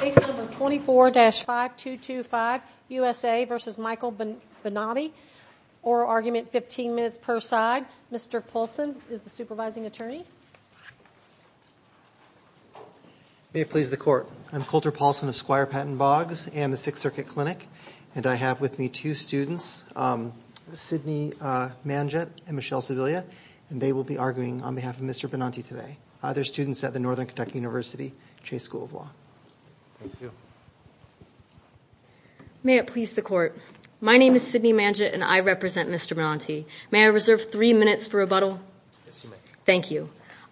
Case number 24-5225, USA v. Michael Benanti, oral argument 15 minutes per side. Mr. Paulson is the supervising attorney. May it please the court. I'm Colter Paulson of Squire Patton Boggs and the Sixth Circuit Clinic and I have with me two students, Sidney Manget and Michelle Sevillia and they will be arguing on behalf of Mr. Benanti today. They're students at Northern Kentucky University Chase School of Law. May it please the court. My name is Sidney Manget and I represent Mr. Benanti. May I reserve three minutes for rebuttal? Thank you.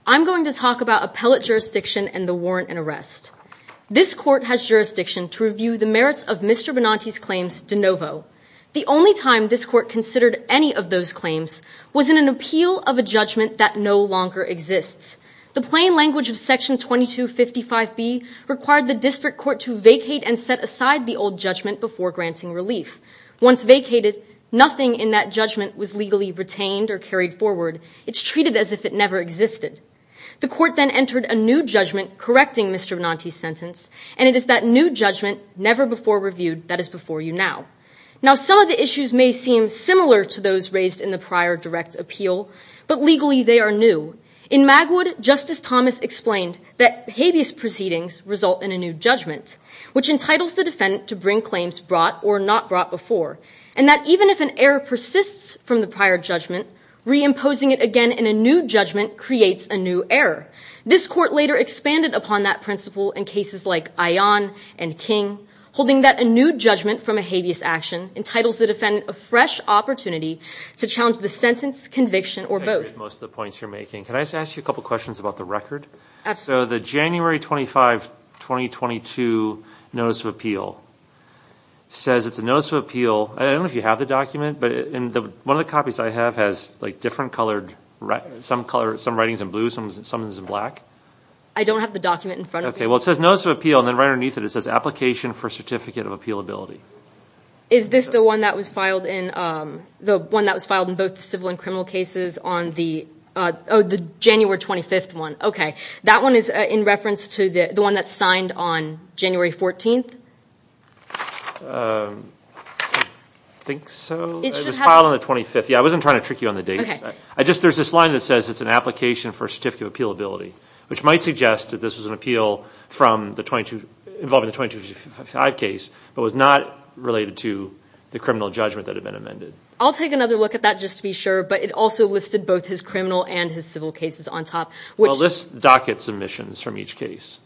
I'm going to talk about appellate jurisdiction and the warrant and arrest. This court has jurisdiction to review the merits of Mr. Benanti's claims de novo. The only time this court considered any of those claims was in an appeal of a judgment that no longer exists. The plain language of section 2255B required the district court to vacate and set aside the old judgment before granting relief. Once vacated, nothing in that judgment was legally retained or carried forward. It's treated as if it never existed. The court then entered a new judgment correcting Mr. Benanti's sentence and it is that new judgment, never before reviewed, that is before you now. Now some of the issues may seem similar to those raised in the prior direct appeal, but legally they are new. In Magwood, Justice Thomas explained that habeas proceedings result in a new judgment, which entitles the defendant to bring claims brought or not brought before, and that even if an error persists from the prior judgment, reimposing it again in a new judgment creates a new error. This court later expanded upon that principle in cases like Ion and King, holding that a new judgment from a habeas action entitles the defendant a fresh opportunity to challenge the sentence, conviction, or both. I agree with most of the points you're making. Can I just ask you a couple of questions about the record? Absolutely. So the January 25, 2022 Notice of Appeal says it's a Notice of Appeal. I don't know if you have the document, but one of the copies I have has like different colored, some writings in blue, some in black. I don't have the document in front of me. Okay, well it says Notice of Appeal and then right underneath it, it says Application for Certificate of Appealability. Is this the one that was filed in both the civil and criminal cases on the January 25th one? Okay, that one is in reference to the one that's signed on January 14th? I think so. It was filed on the 25th. Yeah, I wasn't trying to trick you on the dates. There's this line that says it's an Application for Certificate of Appealability, which might suggest that this was an appeal involving the 2255 case but was not related to the criminal judgment that had been amended. I'll take another look at that just to be sure, but it also listed both his criminal and his civil cases on top. Well, this docket submissions from each case.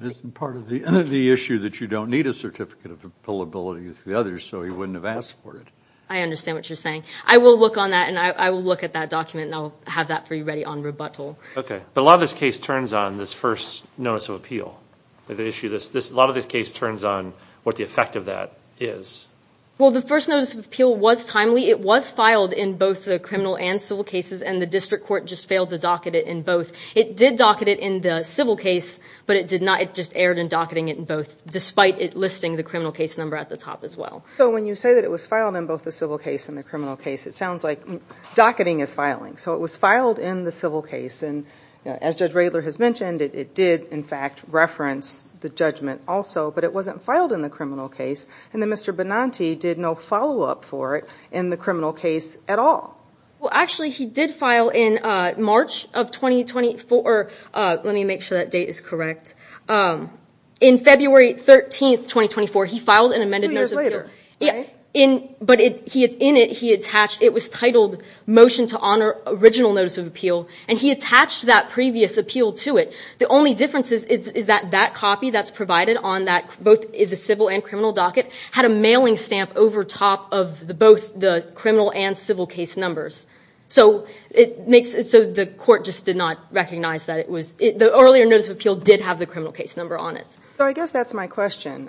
It's part of the issue that you don't need a Certificate of Appealability with the others so he wouldn't have asked for it. I understand what you're saying. I will look on that and I will look at that document and I'll have that for you ready on rebuttal. Okay, but a lot of this case turns on this first notice of appeal. A lot of this case turns on what the effect of that is. Well, the first notice of appeal was timely. It was filed in both the criminal and civil cases and the district court just failed to docket it in both. It did docket it in the civil case, but it just erred in docketing it in both despite it listing the criminal case number at the top as well. So when you say that it was filed in both the civil case and the criminal case, it sounds like docketing is filing. So it was filed in the civil case and as Judge Radler has mentioned, it did in fact reference the judgment also, but it wasn't filed in the criminal case and then Mr. Benanti did no follow-up for it in the criminal case at all. Well, actually he did file in March of 2024, let me make sure that date is correct, in February 13th, 2024, he filed an amended notice of appeal, but in it he attached, it was titled Motion to Honor Original Notice of Appeal, and he attached that previous appeal to it. The only difference is that that copy that's provided on both the civil and criminal docket had a mailing stamp over top of both the criminal and civil case numbers. So the court just did not recognize that it was, the earlier notice of appeal did have the criminal case number on it. So I guess that's my question,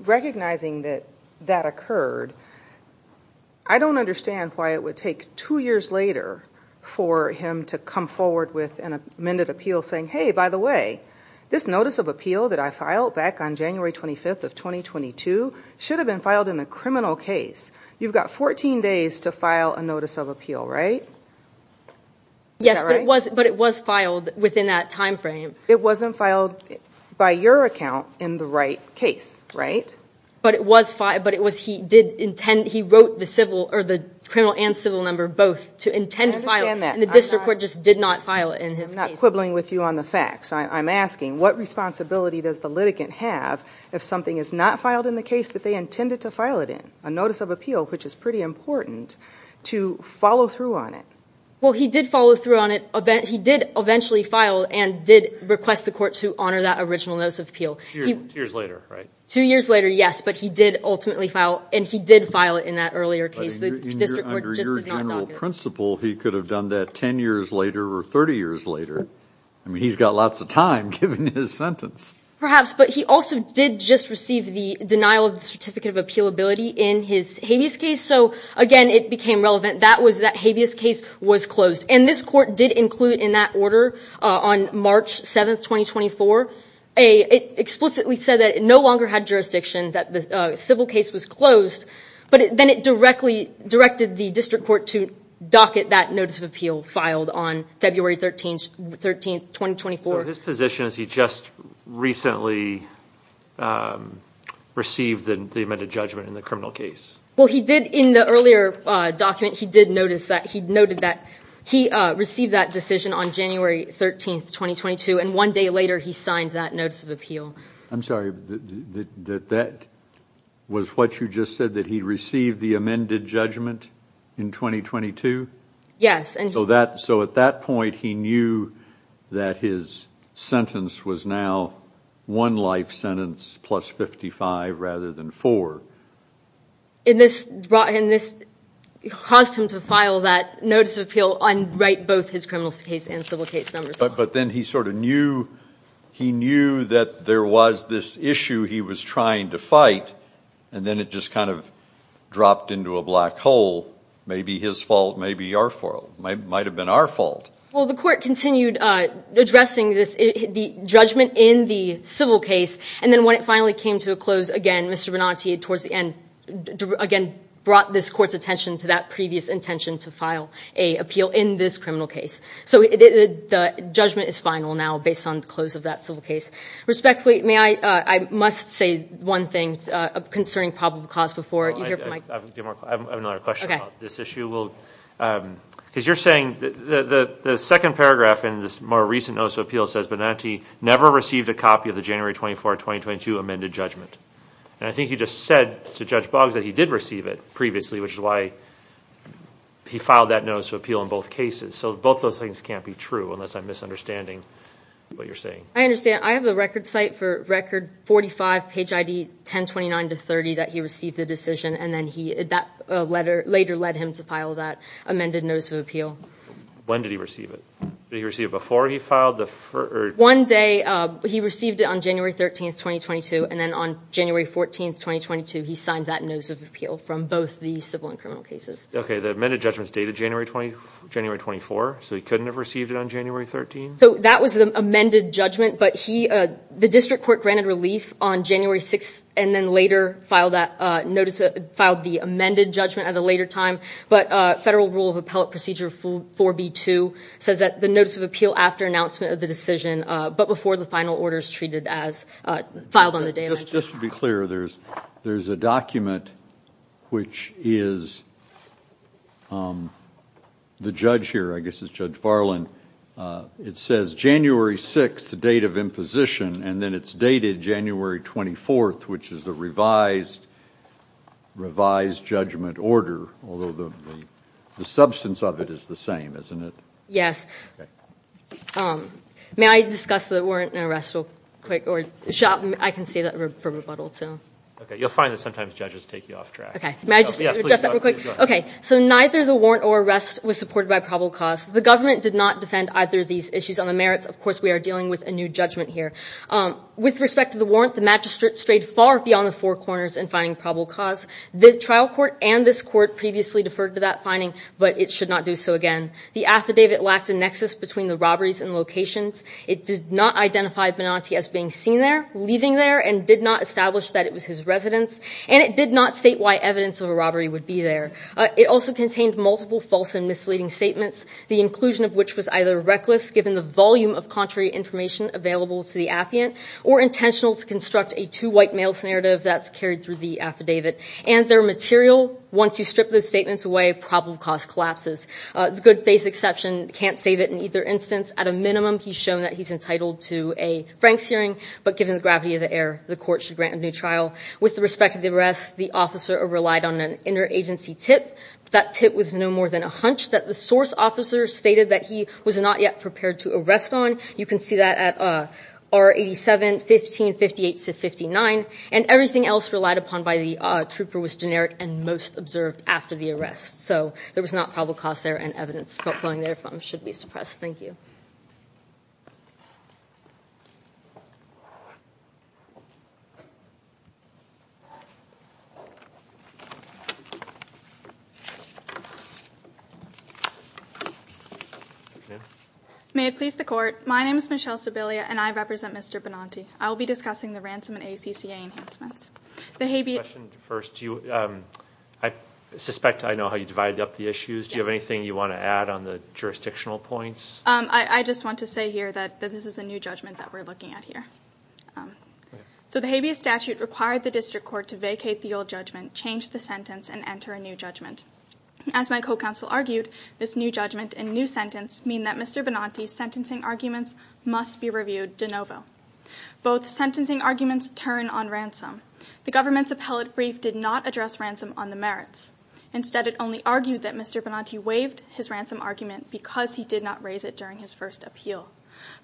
recognizing that that occurred, I don't understand why it would take two years later for him to come forward with an amended appeal saying, hey, by the way, this notice of appeal that I filed back on January 25th of 2022 should have been filed in the criminal case. You've got 14 days to file a notice of appeal, right? Yes, but it was filed within that time frame. It wasn't filed by your account in the right case, right? But it was filed, but it was, he did intend, he wrote the civil, or the criminal and civil number both to intend to file it, and the district court just did not file it in his case. I'm not quibbling with you on the facts. I'm asking, what responsibility does the litigant have if something is not filed in the case that they intended to file it in, a notice of appeal, which is pretty important, to follow through on it? Well, he did follow through on it. He did eventually file and did request the court to honor that original notice of appeal. Years later, right? Two years later, yes, but he did ultimately file, and he did file it in that earlier case. The district court just did not document it. But under your general principle, he could have done that 10 years later or 30 years later. I mean, he's got lots of time given his sentence. Perhaps, but he also did just receive the denial of the certificate of appealability in his habeas case, so again, it became relevant. That was that habeas case was closed, and this court did include in that order on March 7th, 2024, it explicitly said that it no longer had jurisdiction, that the civil case was closed, but then it directed the district court to docket that notice of appeal filed on February 13th, 2024. So his position is he just recently received the amended judgment in the criminal case? Well, he did, in the earlier document, he did notice that, he noted that he received that decision on January 13th, 2022, and one day later, he signed that notice of appeal. I'm sorry, that that was what you just said, that he received the amended judgment in 2022? Yes. So at that point, he knew that his sentence was now one life sentence plus 55, rather than four. And this caused him to file that notice of appeal on both his criminal case and civil case numbers. But then he sort of knew, he knew that there was this issue he was trying to fight, and then it just kind of dropped into a black hole, maybe his fault, maybe our fault, might have been our fault. Well, the court continued addressing the judgment in the civil case, and then when it finally came to a close, again, Mr. Benanti, towards the end, again, brought this court's attention to that previous intention to file a appeal in this criminal case. So the judgment is final now, based on the close of that civil case. Respectfully, may I, I must say one thing concerning probable cause before you hear from Mike. I have another question about this issue. Because you're saying, the second paragraph in this more recent notice of appeal says that Mr. Benanti never received a copy of the January 24, 2022 amended judgment. And I think you just said to Judge Boggs that he did receive it previously, which is why he filed that notice of appeal in both cases. So both those things can't be true, unless I'm misunderstanding what you're saying. I understand. I have the record site for record 45, page ID 1029 to 30, that he received the decision, and then that letter later led him to file that amended notice of appeal. When did he receive it? Did he receive it before he filed the first? One day. He received it on January 13, 2022. And then on January 14, 2022, he signed that notice of appeal from both the civil and criminal cases. OK. The amended judgment's dated January 24, so he couldn't have received it on January 13? So that was the amended judgment. But the district court granted relief on January 6, and then later filed the amended judgment at a later time. But Federal Rule of Appellate Procedure 4B2 says that the notice of appeal after announcement of the decision, but before the final order is treated as filed on the day of action. Just to be clear, there's a document which is the judge here. I guess it's Judge Farland. It says January 6, the date of imposition, and then it's dated January 24, which is the revised judgment order, although the substance of it is the same, isn't it? Yes. May I discuss the warrant and arrest real quick? I can say that for rebuttal, too. OK. You'll find that sometimes judges take you off track. OK. May I just address that real quick? Yes, please. Please go ahead. OK. So neither the warrant or arrest was supported by probable cause. The government did not defend either of these issues on the merits. Of course, we are dealing with a new judgment here. With respect to the warrant, the magistrate strayed far beyond the four corners in finding probable cause. The trial court and this court previously deferred to that finding, but it should not do so again. The affidavit lacked a nexus between the robberies and locations. It did not identify Benanti as being seen there, leaving there, and did not establish that it was his residence, and it did not state why evidence of a robbery would be there. It also contained multiple false and misleading statements, the inclusion of which was either reckless given the volume of contrary information available to the affiant or intentional to construct a two white males narrative that's carried through the affidavit, and their material. Once you strip those statements away, probable cause collapses. The good faith exception can't save it in either instance. At a minimum, he's shown that he's entitled to a Franks hearing, but given the gravity of the error, the court should grant a new trial. With respect to the arrest, the officer relied on an interagency tip. That tip was no more than a hunch that the source officer stated that he was not yet prepared to arrest on. You can see that at R87, 1558-59. And everything else relied upon by the trooper was generic and most observed after the arrest. So there was not probable cause there and evidence flowing there from should be suppressed. Thank you. May it please the court, my name is Michelle Sebelia and I represent Mr. Benanti. I will be discussing the ransom and ACCA enhancements. The habeas- Question first. I suspect I know how you divided up the issues. Do you have anything you want to add on the jurisdictional points? I just want to say here that this is a new judgment that we're looking at here. So the habeas statute required the district court to vacate the old judgment, change the sentence and enter a new judgment. As my co-counsel argued, this new judgment and new sentence mean that Mr. Benanti's sentencing arguments must be reviewed de novo. Both sentencing arguments turn on ransom. The government's appellate brief did not address ransom on the merits. Instead, it only argued that Mr. Benanti waived his ransom argument because he did not raise it during his first appeal.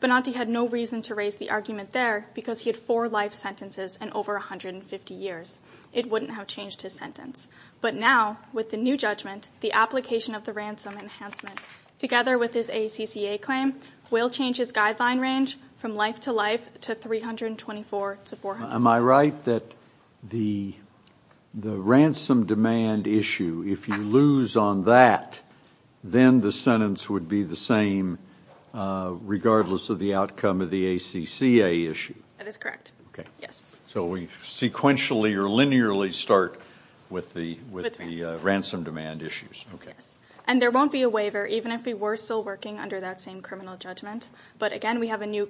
Benanti had no reason to raise the argument there because he had four life sentences and over 150 years. It wouldn't have changed his sentence. But now, with the new judgment, the application of the ransom enhancement, together with his ACCA claim, will change his guideline range from life to life to 324 to 400 years. Am I right that the ransom demand issue, if you lose on that, then the sentence would be the same regardless of the outcome of the ACCA issue? That is correct. Okay. Yes. So we sequentially or linearly start with the ransom demand issues. Okay. Yes. And there won't be a waiver even if we were still working under that same criminal judgment. But again, we have a new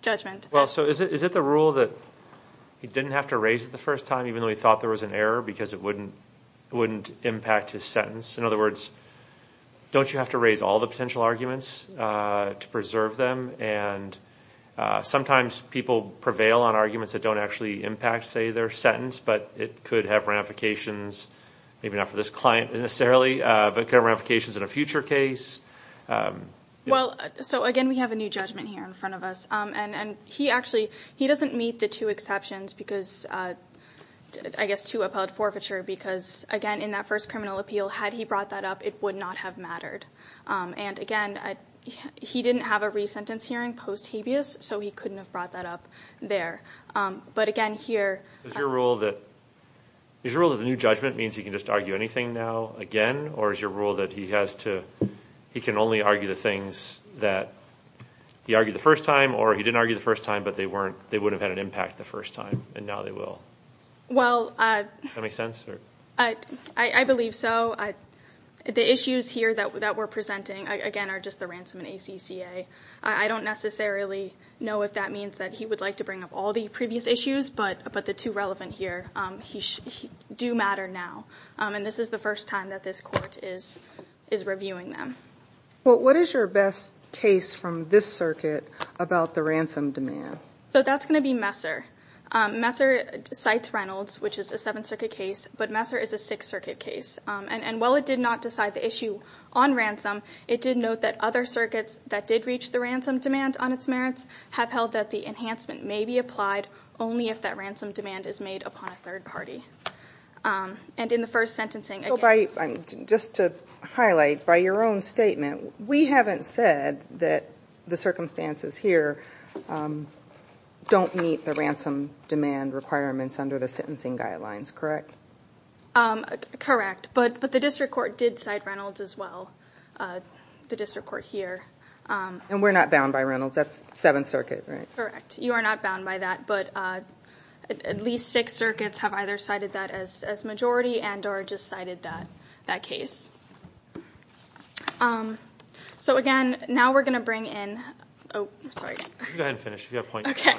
judgment. Well, so is it the rule that he didn't have to raise it the first time even though he thought there was an error because it wouldn't impact his sentence? In other words, don't you have to raise all the potential arguments to preserve them? And sometimes people prevail on arguments that don't actually impact, say, their sentence, but it could have ramifications, maybe not for this client necessarily, but could have ramifications in a future case. Well, so again, we have a new judgment here in front of us. And he actually, he doesn't meet the two exceptions because, I guess, two upheld forfeiture because, again, in that first criminal appeal, had he brought that up, it would not have mattered. And again, he didn't have a re-sentence hearing post-habeas, so he couldn't have brought that up there. But again, here- Is your rule that the new judgment means he can just argue anything now again, or is your rule that he has to, he can only argue the things that he argued the first time or he didn't argue the first time, but they wouldn't have had an impact the first time and now they will? Well- Does that make sense? I believe so. The issues here that we're presenting, again, are just the ransom and ACCA. I don't necessarily know if that means that he would like to bring up all the previous issues, but the two relevant here do matter now. And this is the first time that this court is reviewing them. Well, what is your best case from this circuit about the ransom demand? So that's going to be Messer. Messer cites Reynolds, which is a Seventh Circuit case, but Messer is a Sixth Circuit case. And while it did not decide the issue on ransom, it did note that other circuits that did reach the ransom demand on its merits have held that the enhancement may be applied only if that ransom demand is made upon a third party. And in the first sentencing- Just to highlight, by your own statement, we haven't said that the circumstances here don't meet the ransom demand requirements under the sentencing guidelines, correct? Correct. But the district court did cite Reynolds as well, the district court here. And we're not bound by Reynolds. That's Seventh Circuit, right? Correct. You are not bound by that. But at least Sixth Circuits have either cited that as majority and or just cited that case. So, again, now we're going to bring in- Oh, sorry. You can go ahead and finish. If you have a point- Okay.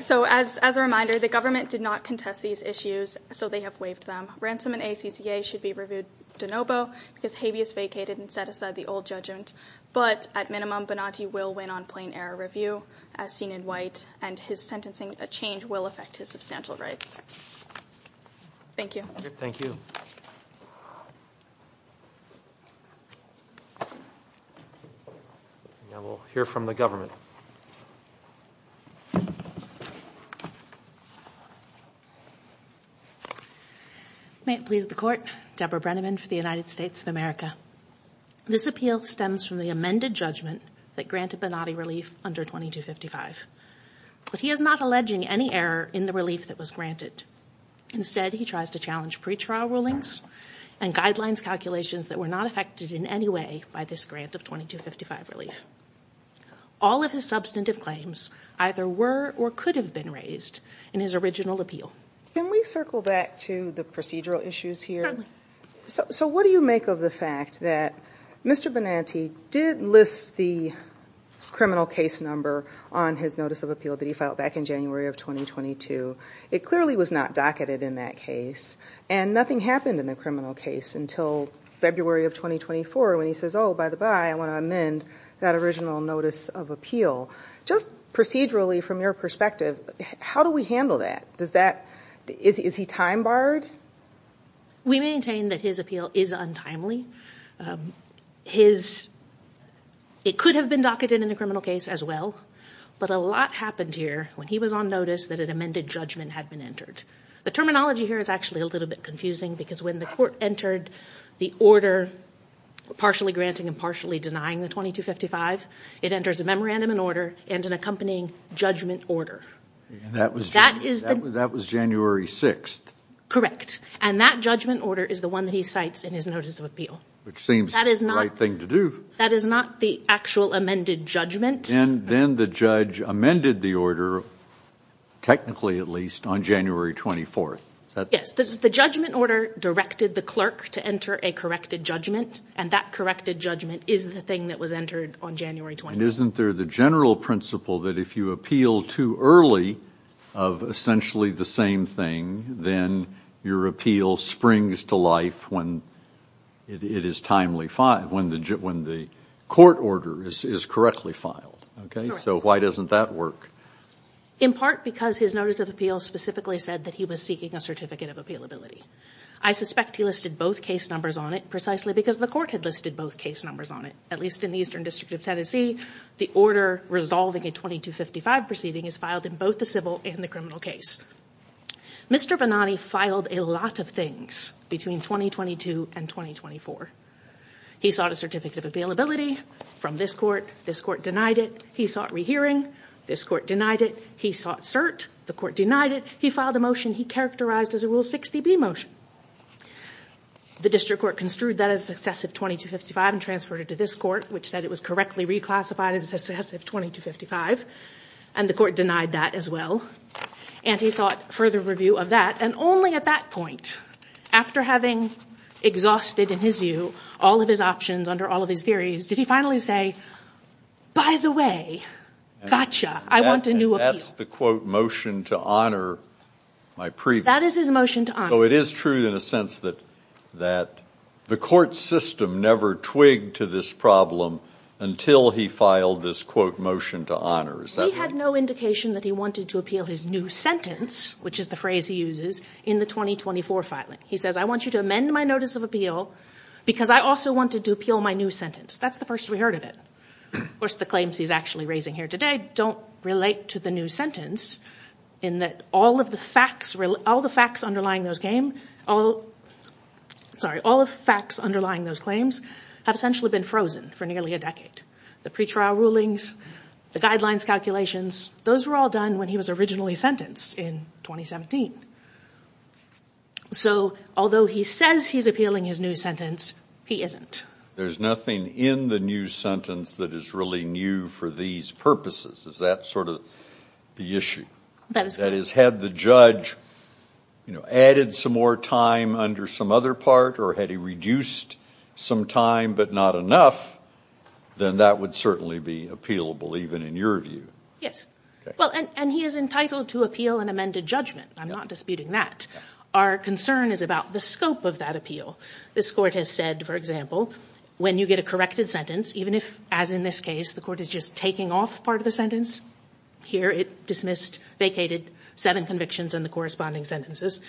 So, as a reminder, the government did not contest these issues, so they have waived them. Ransom and ACCA should be reviewed de novo because habeas vacated and set aside the old judgment. But, at minimum, Bonatti will win on plain error review, as seen in white, and his sentencing change will affect his substantial rights. Thank you. Thank you. Thank you. Now, we'll hear from the government. May it please the Court. Deborah Brenneman for the United States of America. This appeal stems from the amended judgment that granted Bonatti relief under 2255. But he is not alleging any error in the relief that was granted. Instead, he tries to challenge pretrial rulings and guidelines calculations that were not affected in any way by this grant of 2255 relief. All of his substantive claims either were or could have been raised in his original appeal. Can we circle back to the procedural issues here? Certainly. So, what do you make of the fact that Mr. Bonatti did list the criminal case number on his notice of appeal that he filed back in January of 2022? It clearly was not docketed in that case, and nothing happened in the criminal case until February of 2024 when he says, oh, by the by, I want to amend that original notice of appeal. Just procedurally, from your perspective, how do we handle that? Does that, is he time barred? We maintain that his appeal is untimely. It could have been docketed in the criminal case as well, but a lot happened here when he was on notice that an amended judgment had been entered. The terminology here is actually a little bit confusing because when the court entered the order partially granting and partially denying the 2255, it enters a memorandum and order and an accompanying judgment order. That was January 6th. Correct. And that judgment order is the one that he cites in his notice of appeal. Which seems the right thing to do. That is not the actual amended judgment. Then the judge amended the order, technically at least, on January 24th. Yes, the judgment order directed the clerk to enter a corrected judgment, and that corrected judgment is the thing that was entered on January 24th. Isn't there the general principle that if you appeal too early of essentially the same thing, then your appeal springs to life when it is timely, when the court order is correctly filed? Correct. So why doesn't that work? In part because his notice of appeal specifically said that he was seeking a certificate of appealability. I suspect he listed both case numbers on it precisely because the court had listed both case numbers on it. At least in the Eastern District of Tennessee, the order resolving a 2255 proceeding is filed in both the civil and the criminal case. Mr. Bonani filed a lot of things between 2022 and 2024. He sought a certificate of appealability from this court. This court denied it. He sought rehearing. This court denied it. He sought cert. The court denied it. He filed a motion he characterized as a Rule 60B motion. The district court construed that as excessive 2255 and transferred it to this court, which said it was correctly reclassified as excessive 2255. And the court denied that as well. And he sought further review of that. And only at that point, after having exhausted, in his view, all of his options under all of his theories, did he finally say, by the way, gotcha, I want a new appeal. And that's the, quote, motion to honor my previous. That is his motion to honor. So it is true in a sense that the court system never twigged to this problem until he filed this, quote, motion to honor. Is that right? There is some indication that he wanted to appeal his new sentence, which is the phrase he uses, in the 2024 filing. He says, I want you to amend my notice of appeal because I also wanted to appeal my new sentence. That's the first we heard of it. Of course, the claims he's actually raising here today don't relate to the new sentence in that all of the facts underlying those claims have essentially been frozen for nearly a decade. The pretrial rulings, the guidelines calculations, those were all done when he was originally sentenced in 2017. So although he says he's appealing his new sentence, he isn't. There's nothing in the new sentence that is really new for these purposes. Is that sort of the issue? That is correct. That is, had the judge added some more time under some other part or had he reduced some time but not enough, then that would certainly be appealable, even in your view. Yes. Well, and he is entitled to appeal an amended judgment. I'm not disputing that. Our concern is about the scope of that appeal. This court has said, for example, when you get a corrected sentence, even if, as in this case, the court is just taking off part of the sentence, here it dismissed, vacated seven convictions in the corresponding sentences,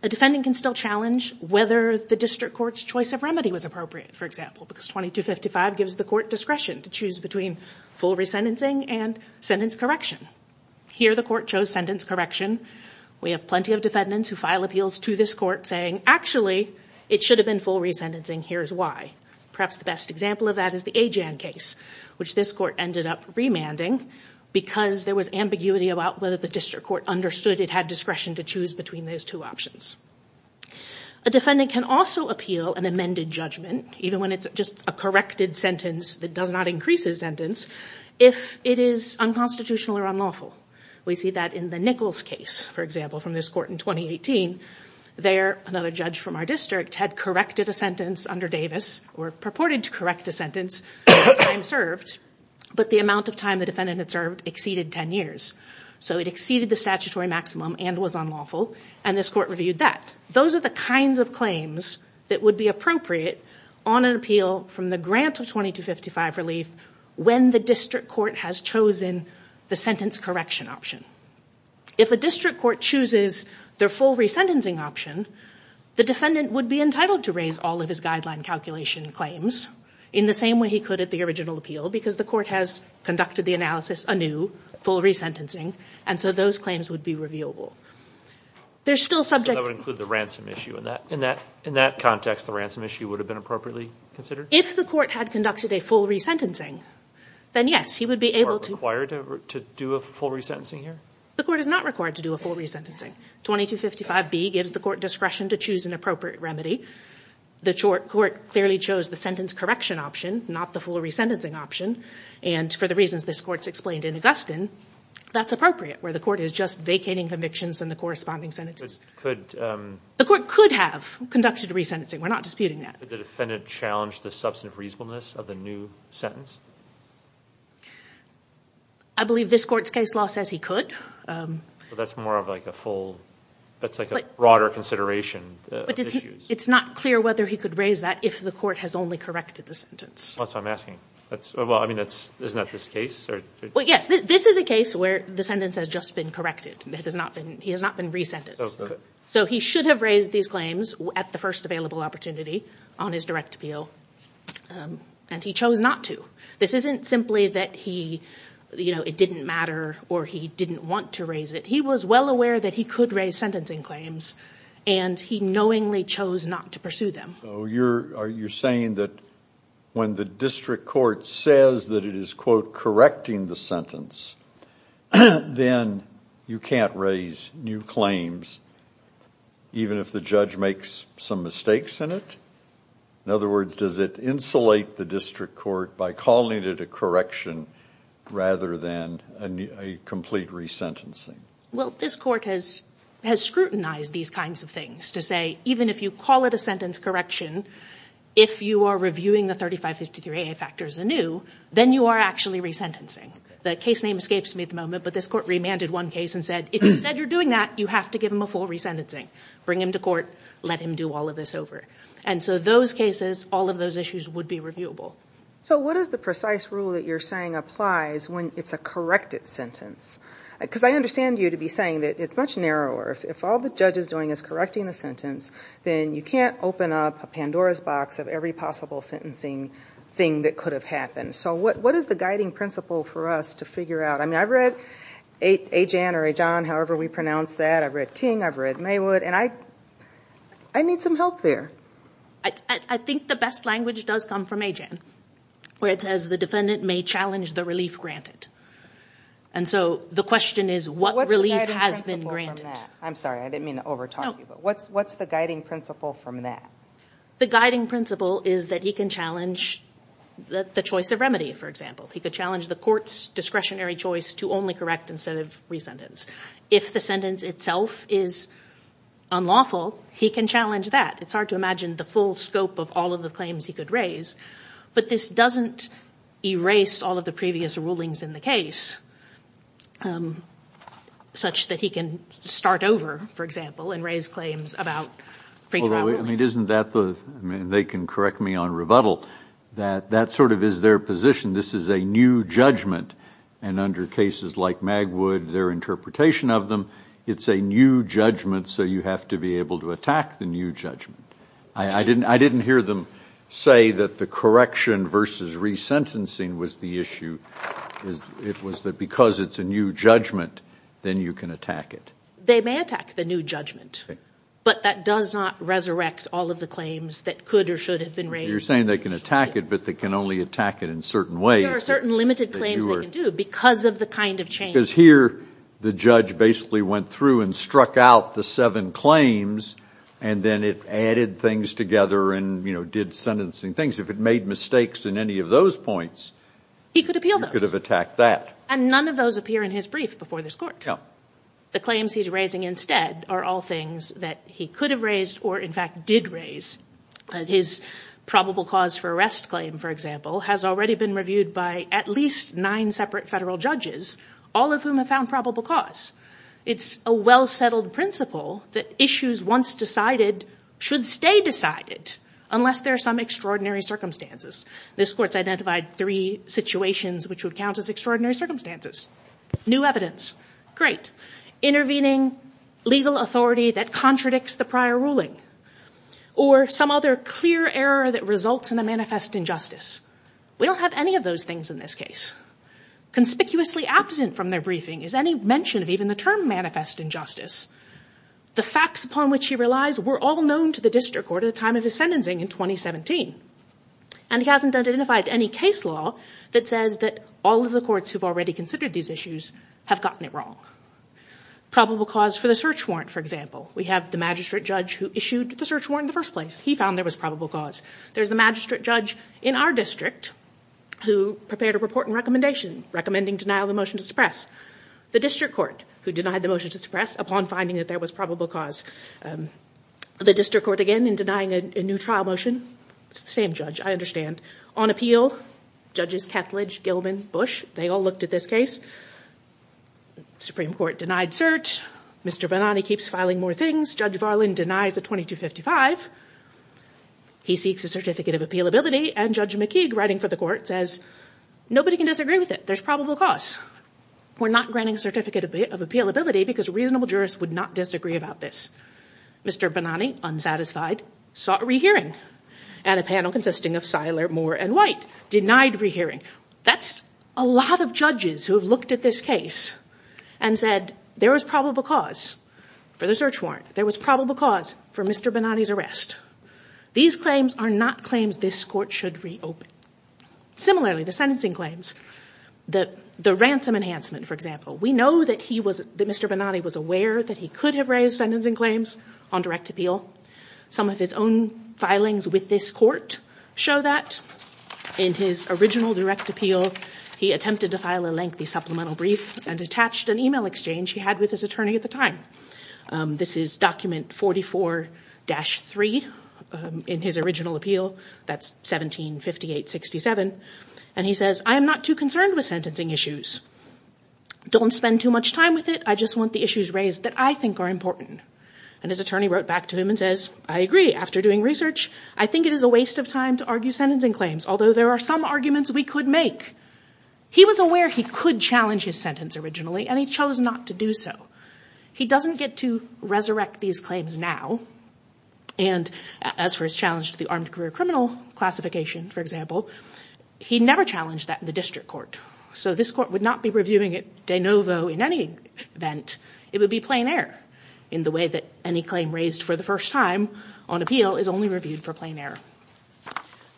a defendant can still challenge whether the district court's choice of remedy was appropriate, for example, because 2255 gives the court discretion to choose between full resentencing and sentence correction. Here the court chose sentence correction. We have plenty of defendants who file appeals to this court saying, actually, it should have been full resentencing. Here's why. Perhaps the best example of that is the Ajan case, which this court ended up remanding because there was ambiguity about whether the district court understood it had discretion to choose between those two options. A defendant can also appeal an amended judgment, even when it's just a corrected sentence that does not increase his sentence, if it is unconstitutional or unlawful. We see that in the Nichols case, for example, from this court in 2018. There, another judge from our district had corrected a sentence under Davis, or purported to correct a sentence, but the amount of time the defendant had served exceeded 10 years. It exceeded the statutory maximum and was unlawful, and this court reviewed that. Those are the kinds of claims that would be appropriate on an appeal from the grant of 2255 relief when the district court has chosen the sentence correction option. If a district court chooses their full resentencing option, the defendant would be entitled to raise all of his guideline calculation claims in the same way he could at the original appeal, because the court has conducted the analysis anew, full resentencing, and so those claims would be revealable. There's still subject... So that would include the ransom issue. In that context, the ransom issue would have been appropriately considered? If the court had conducted a full resentencing, then yes. He would be able to... Is the court required to do a full resentencing here? The court is not required to do a full resentencing. 2255B gives the court discretion to choose an appropriate remedy. The court clearly chose the sentence correction option, not the full resentencing option, and for the reasons this court's explained in Augustine, that's appropriate, where the court is just vacating convictions in the corresponding sentences. The court could have conducted resentencing. We're not disputing that. Did the defendant challenge the substantive reasonableness of the new sentence? I believe this court's case law says he could. That's more of like a full... That's like a broader consideration of issues. It's not clear whether he could raise that if the court has only corrected the sentence. That's what I'm asking. That's... Well, I mean, that's... Isn't that this case? Or... Well, yes. This is a case where the sentence has just been corrected. It has not been... He has not been resentenced. So he should have raised these claims at the first available opportunity on his direct appeal, and he chose not to. This isn't simply that he, you know, it didn't matter or he didn't want to raise it. He was well aware that he could raise sentencing claims, and he knowingly chose not to pursue them. So you're saying that when the district court says that it is, quote, correcting the sentence, then you can't raise new claims even if the judge makes some mistakes in it? In other words, does it insulate the district court by calling it a correction rather than a complete resentencing? Well, this court has scrutinized these kinds of things to say, even if you call it a sentence correction, if you are reviewing the 3553AA factors anew, then you are actually resentencing. The case name escapes me at the moment, but this court remanded one case and said, if you said you're doing that, you have to give him a full resentencing. Bring him to court. Let him do all of this over. And so those cases, all of those issues would be reviewable. So what is the precise rule that you're saying applies when it's a corrected sentence? Because I understand you to be saying that it's much narrower. If all the judge is doing is correcting the sentence, then you can't open up a Pandora's box of every possible sentencing thing that could have happened. So what is the guiding principle for us to figure out? I mean, I've read Ajan or Ajan, however we pronounce that. I've read King. I've read Maywood. And I need some help there. I think the best language does come from Ajan, where it says the defendant may challenge the relief granted. And so the question is, what relief has been granted? I'm sorry. I didn't mean to over-talk you. But what's the guiding principle from that? The guiding principle is that he can challenge the choice of remedy, for example. He could challenge the court's discretionary choice to only correct instead of resentence. If the sentence itself is unlawful, he can challenge that. It's hard to imagine the full scope of all of the claims he could raise. But this doesn't erase all of the previous rulings in the case, such that he can start over, for example, and raise claims about pretrial rulings. Although, I mean, isn't that the—I mean, they can correct me on rebuttal. That sort of is their position. This is a new judgment. And under cases like Magwood, their interpretation of them, it's a new judgment. So you have to be able to attack the new judgment. I didn't hear them say that the correction versus resentencing was the issue. It was that because it's a new judgment, then you can attack it. They may attack the new judgment. But that does not resurrect all of the claims that could or should have been raised. You're saying they can attack it, but they can only attack it in certain ways. There are certain limited claims they can do because of the kind of change. Because here, the judge basically went through and struck out the seven claims, and then it added things together and, you know, did sentencing things. If it made mistakes in any of those points— He could appeal those. You could have attacked that. And none of those appear in his brief before this court. The claims he's raising instead are all things that he could have raised or, in fact, did raise. His probable cause for arrest claim, for example, has already been reviewed by at least nine separate federal judges, all of whom have found probable cause. It's a well-settled principle that issues once decided should stay decided unless there are some extraordinary circumstances. This court's identified three situations which would count as extraordinary circumstances. New evidence. Great. Intervening legal authority that contradicts the prior ruling. Or some other clear error that results in a manifest injustice. We don't have any of those things in this case. Conspicuously absent from their briefing is any mention of even the term manifest injustice. The facts upon which he relies were all known to the district court at the time of his sentencing in 2017. And he hasn't identified any case law that says that all of the courts who've already considered these issues have gotten it wrong. Probable cause for the search warrant, for example. We have the magistrate judge who issued the search warrant in the first place. He found there was probable cause. There's the magistrate judge in our district who prepared a report and recommendation recommending denial of the motion to suppress. The district court who denied the motion to suppress upon finding that there was probable cause. The district court, again, in denying a new trial motion. It's the same judge, I understand. On appeal, judges Ketledge, Gilman, Bush, they all looked at this case. Supreme Court denied search. Mr. Bonani keeps filing more things. Judge Varlin denies a 2255. He seeks a certificate of appealability and Judge McKeague, writing for the court, says nobody can disagree with it. There's probable cause. We're not granting a certificate of appealability because reasonable jurists would not disagree about this. Mr. Bonani, unsatisfied, sought a rehearing at a panel consisting of Seiler, Moore, and Denied rehearing. That's a lot of judges who have looked at this case and said there was probable cause for the search warrant. There was probable cause for Mr. Bonani's arrest. These claims are not claims this court should reopen. Similarly, the sentencing claims, the ransom enhancement, for example. We know that Mr. Bonani was aware that he could have raised sentencing claims on direct appeal. Some of his own filings with this court show that. In his original direct appeal, he attempted to file a lengthy supplemental brief and attached an email exchange he had with his attorney at the time. This is document 44-3 in his original appeal. That's 1758-67. And he says, I am not too concerned with sentencing issues. Don't spend too much time with it. I just want the issues raised that I think are important. And his attorney wrote back to him and says, I agree. After doing research, I think it is a waste of time to argue sentencing claims, although there are some arguments we could make. He was aware he could challenge his sentence originally, and he chose not to do so. He doesn't get to resurrect these claims now. And as for his challenge to the armed career criminal classification, for example, he never challenged that in the district court. So this court would not be reviewing it de novo in any event. It would be plain error in the way that any claim raised for the first time on appeal is only reviewed for plain error.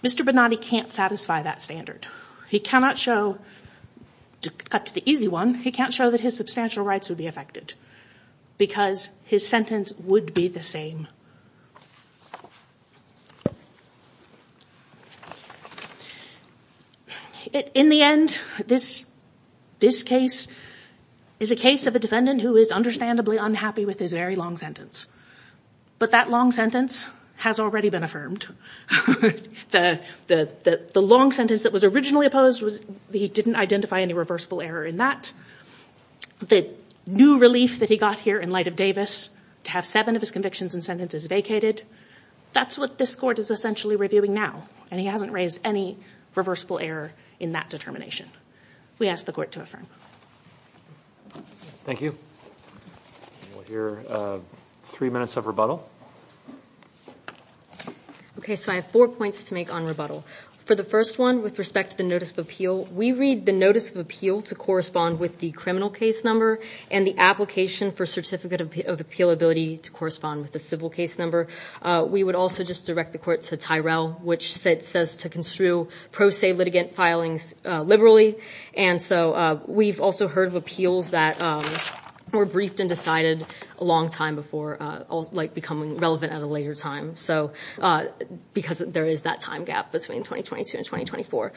Mr. Bonani can't satisfy that standard. He cannot show, to cut to the easy one, he can't show that his substantial rights would be affected, because his sentence would be the same. In the end, this case is a case of a defendant who is understandably unhappy with his very long sentence. But that long sentence has already been affirmed. The long sentence that was originally opposed, he didn't identify any reversible error in that. The new relief that he got here in light of Davis, to have seven of his convictions and sentences vacated, that's what this court is essentially reviewing now, and he hasn't raised any reversible error in that determination. We ask the court to affirm. Thank you. We'll hear three minutes of rebuttal. Okay, so I have four points to make on rebuttal. For the first one, with respect to the notice of appeal, we read the notice of appeal to correspond with the criminal case number, and the application for certificate of appealability to correspond with the civil case number. We would also just direct the court to Tyrell, which it says to construe pro se litigant filings liberally. And so we've also heard of appeals that were briefed and decided a long time before becoming relevant at a later time, because there is that time gap between 2022 and 2024.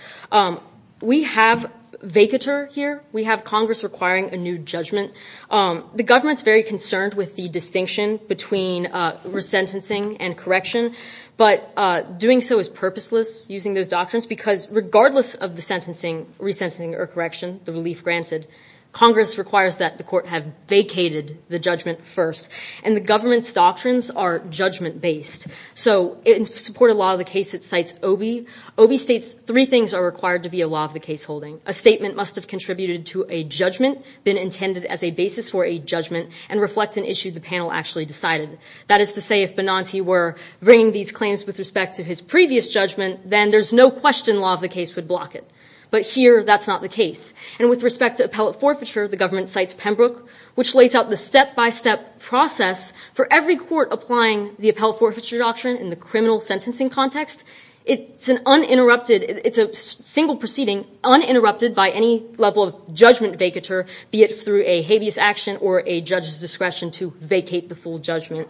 We have vacatur here. We have Congress requiring a new judgment. The government's very concerned with the distinction between resentencing and correction, but doing so is purposeless, using those doctrines, because regardless of the sentencing, resentencing or correction, the relief granted, Congress requires that the court have vacated the judgment first. And the government's doctrines are judgment-based. So in support of law of the case, it cites Obie. Obie states three things are required to be a law of the case holding. A statement must have contributed to a judgment, been intended as a basis for a judgment, and reflect an issue the panel actually decided. That is to say, if Benanti were bringing these claims with respect to his previous judgment, then there's no question law of the case would block it. But here, that's not the case. And with respect to appellate forfeiture, the government cites Pembroke, which lays out the step-by-step process for every court applying the appellate forfeiture doctrine in the criminal sentencing context. It's an uninterrupted, it's a single proceeding uninterrupted by any level of judgment vacatur, be it through a habeas action or a judge's discretion to vacate the full judgment.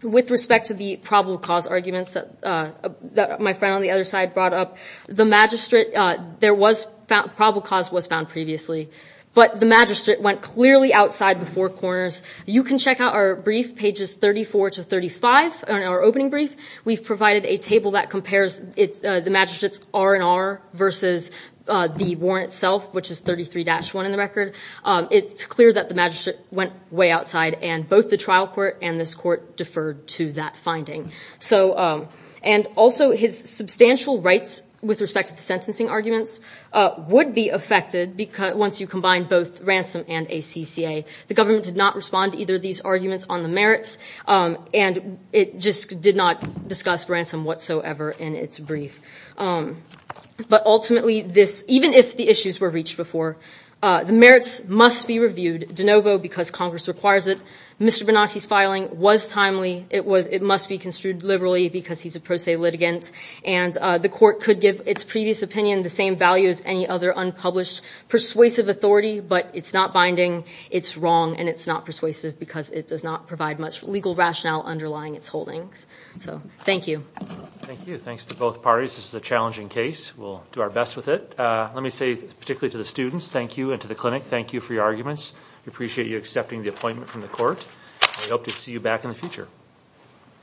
With respect to the probable cause arguments that my friend on the other side brought up, the magistrate, there was, probable cause was found previously. But the magistrate went clearly outside the four corners. You can check out our brief, pages 34 to 35, our opening brief. We've provided a table that compares the magistrate's R&R versus the warrant itself, which is 33-1 in the record. It's clear that the magistrate went way outside, and both the trial court and this court deferred to that finding. So, and also his substantial rights with respect to the sentencing arguments would be affected once you combine both ransom and ACCA. The government did not respond to either of these arguments on the merits, and it just did not discuss ransom whatsoever in its brief. But ultimately, even if the issues were reached before, the merits must be reviewed. De novo, because Congress requires it. Mr. Bonatti's filing was timely. It must be construed liberally because he's a pro se litigant. And the court could give its previous opinion the same value as any other unpublished persuasive authority, but it's not binding, it's wrong, and it's not persuasive because it does not provide much legal rationale underlying its holdings. So, thank you. Thank you. Thanks to both parties. This is a challenging case. We'll do our best with it. Let me say, particularly to the students, thank you, and to the clinic, thank you for your arguments. We appreciate you accepting the appointment from the court. We hope to see you back in the future.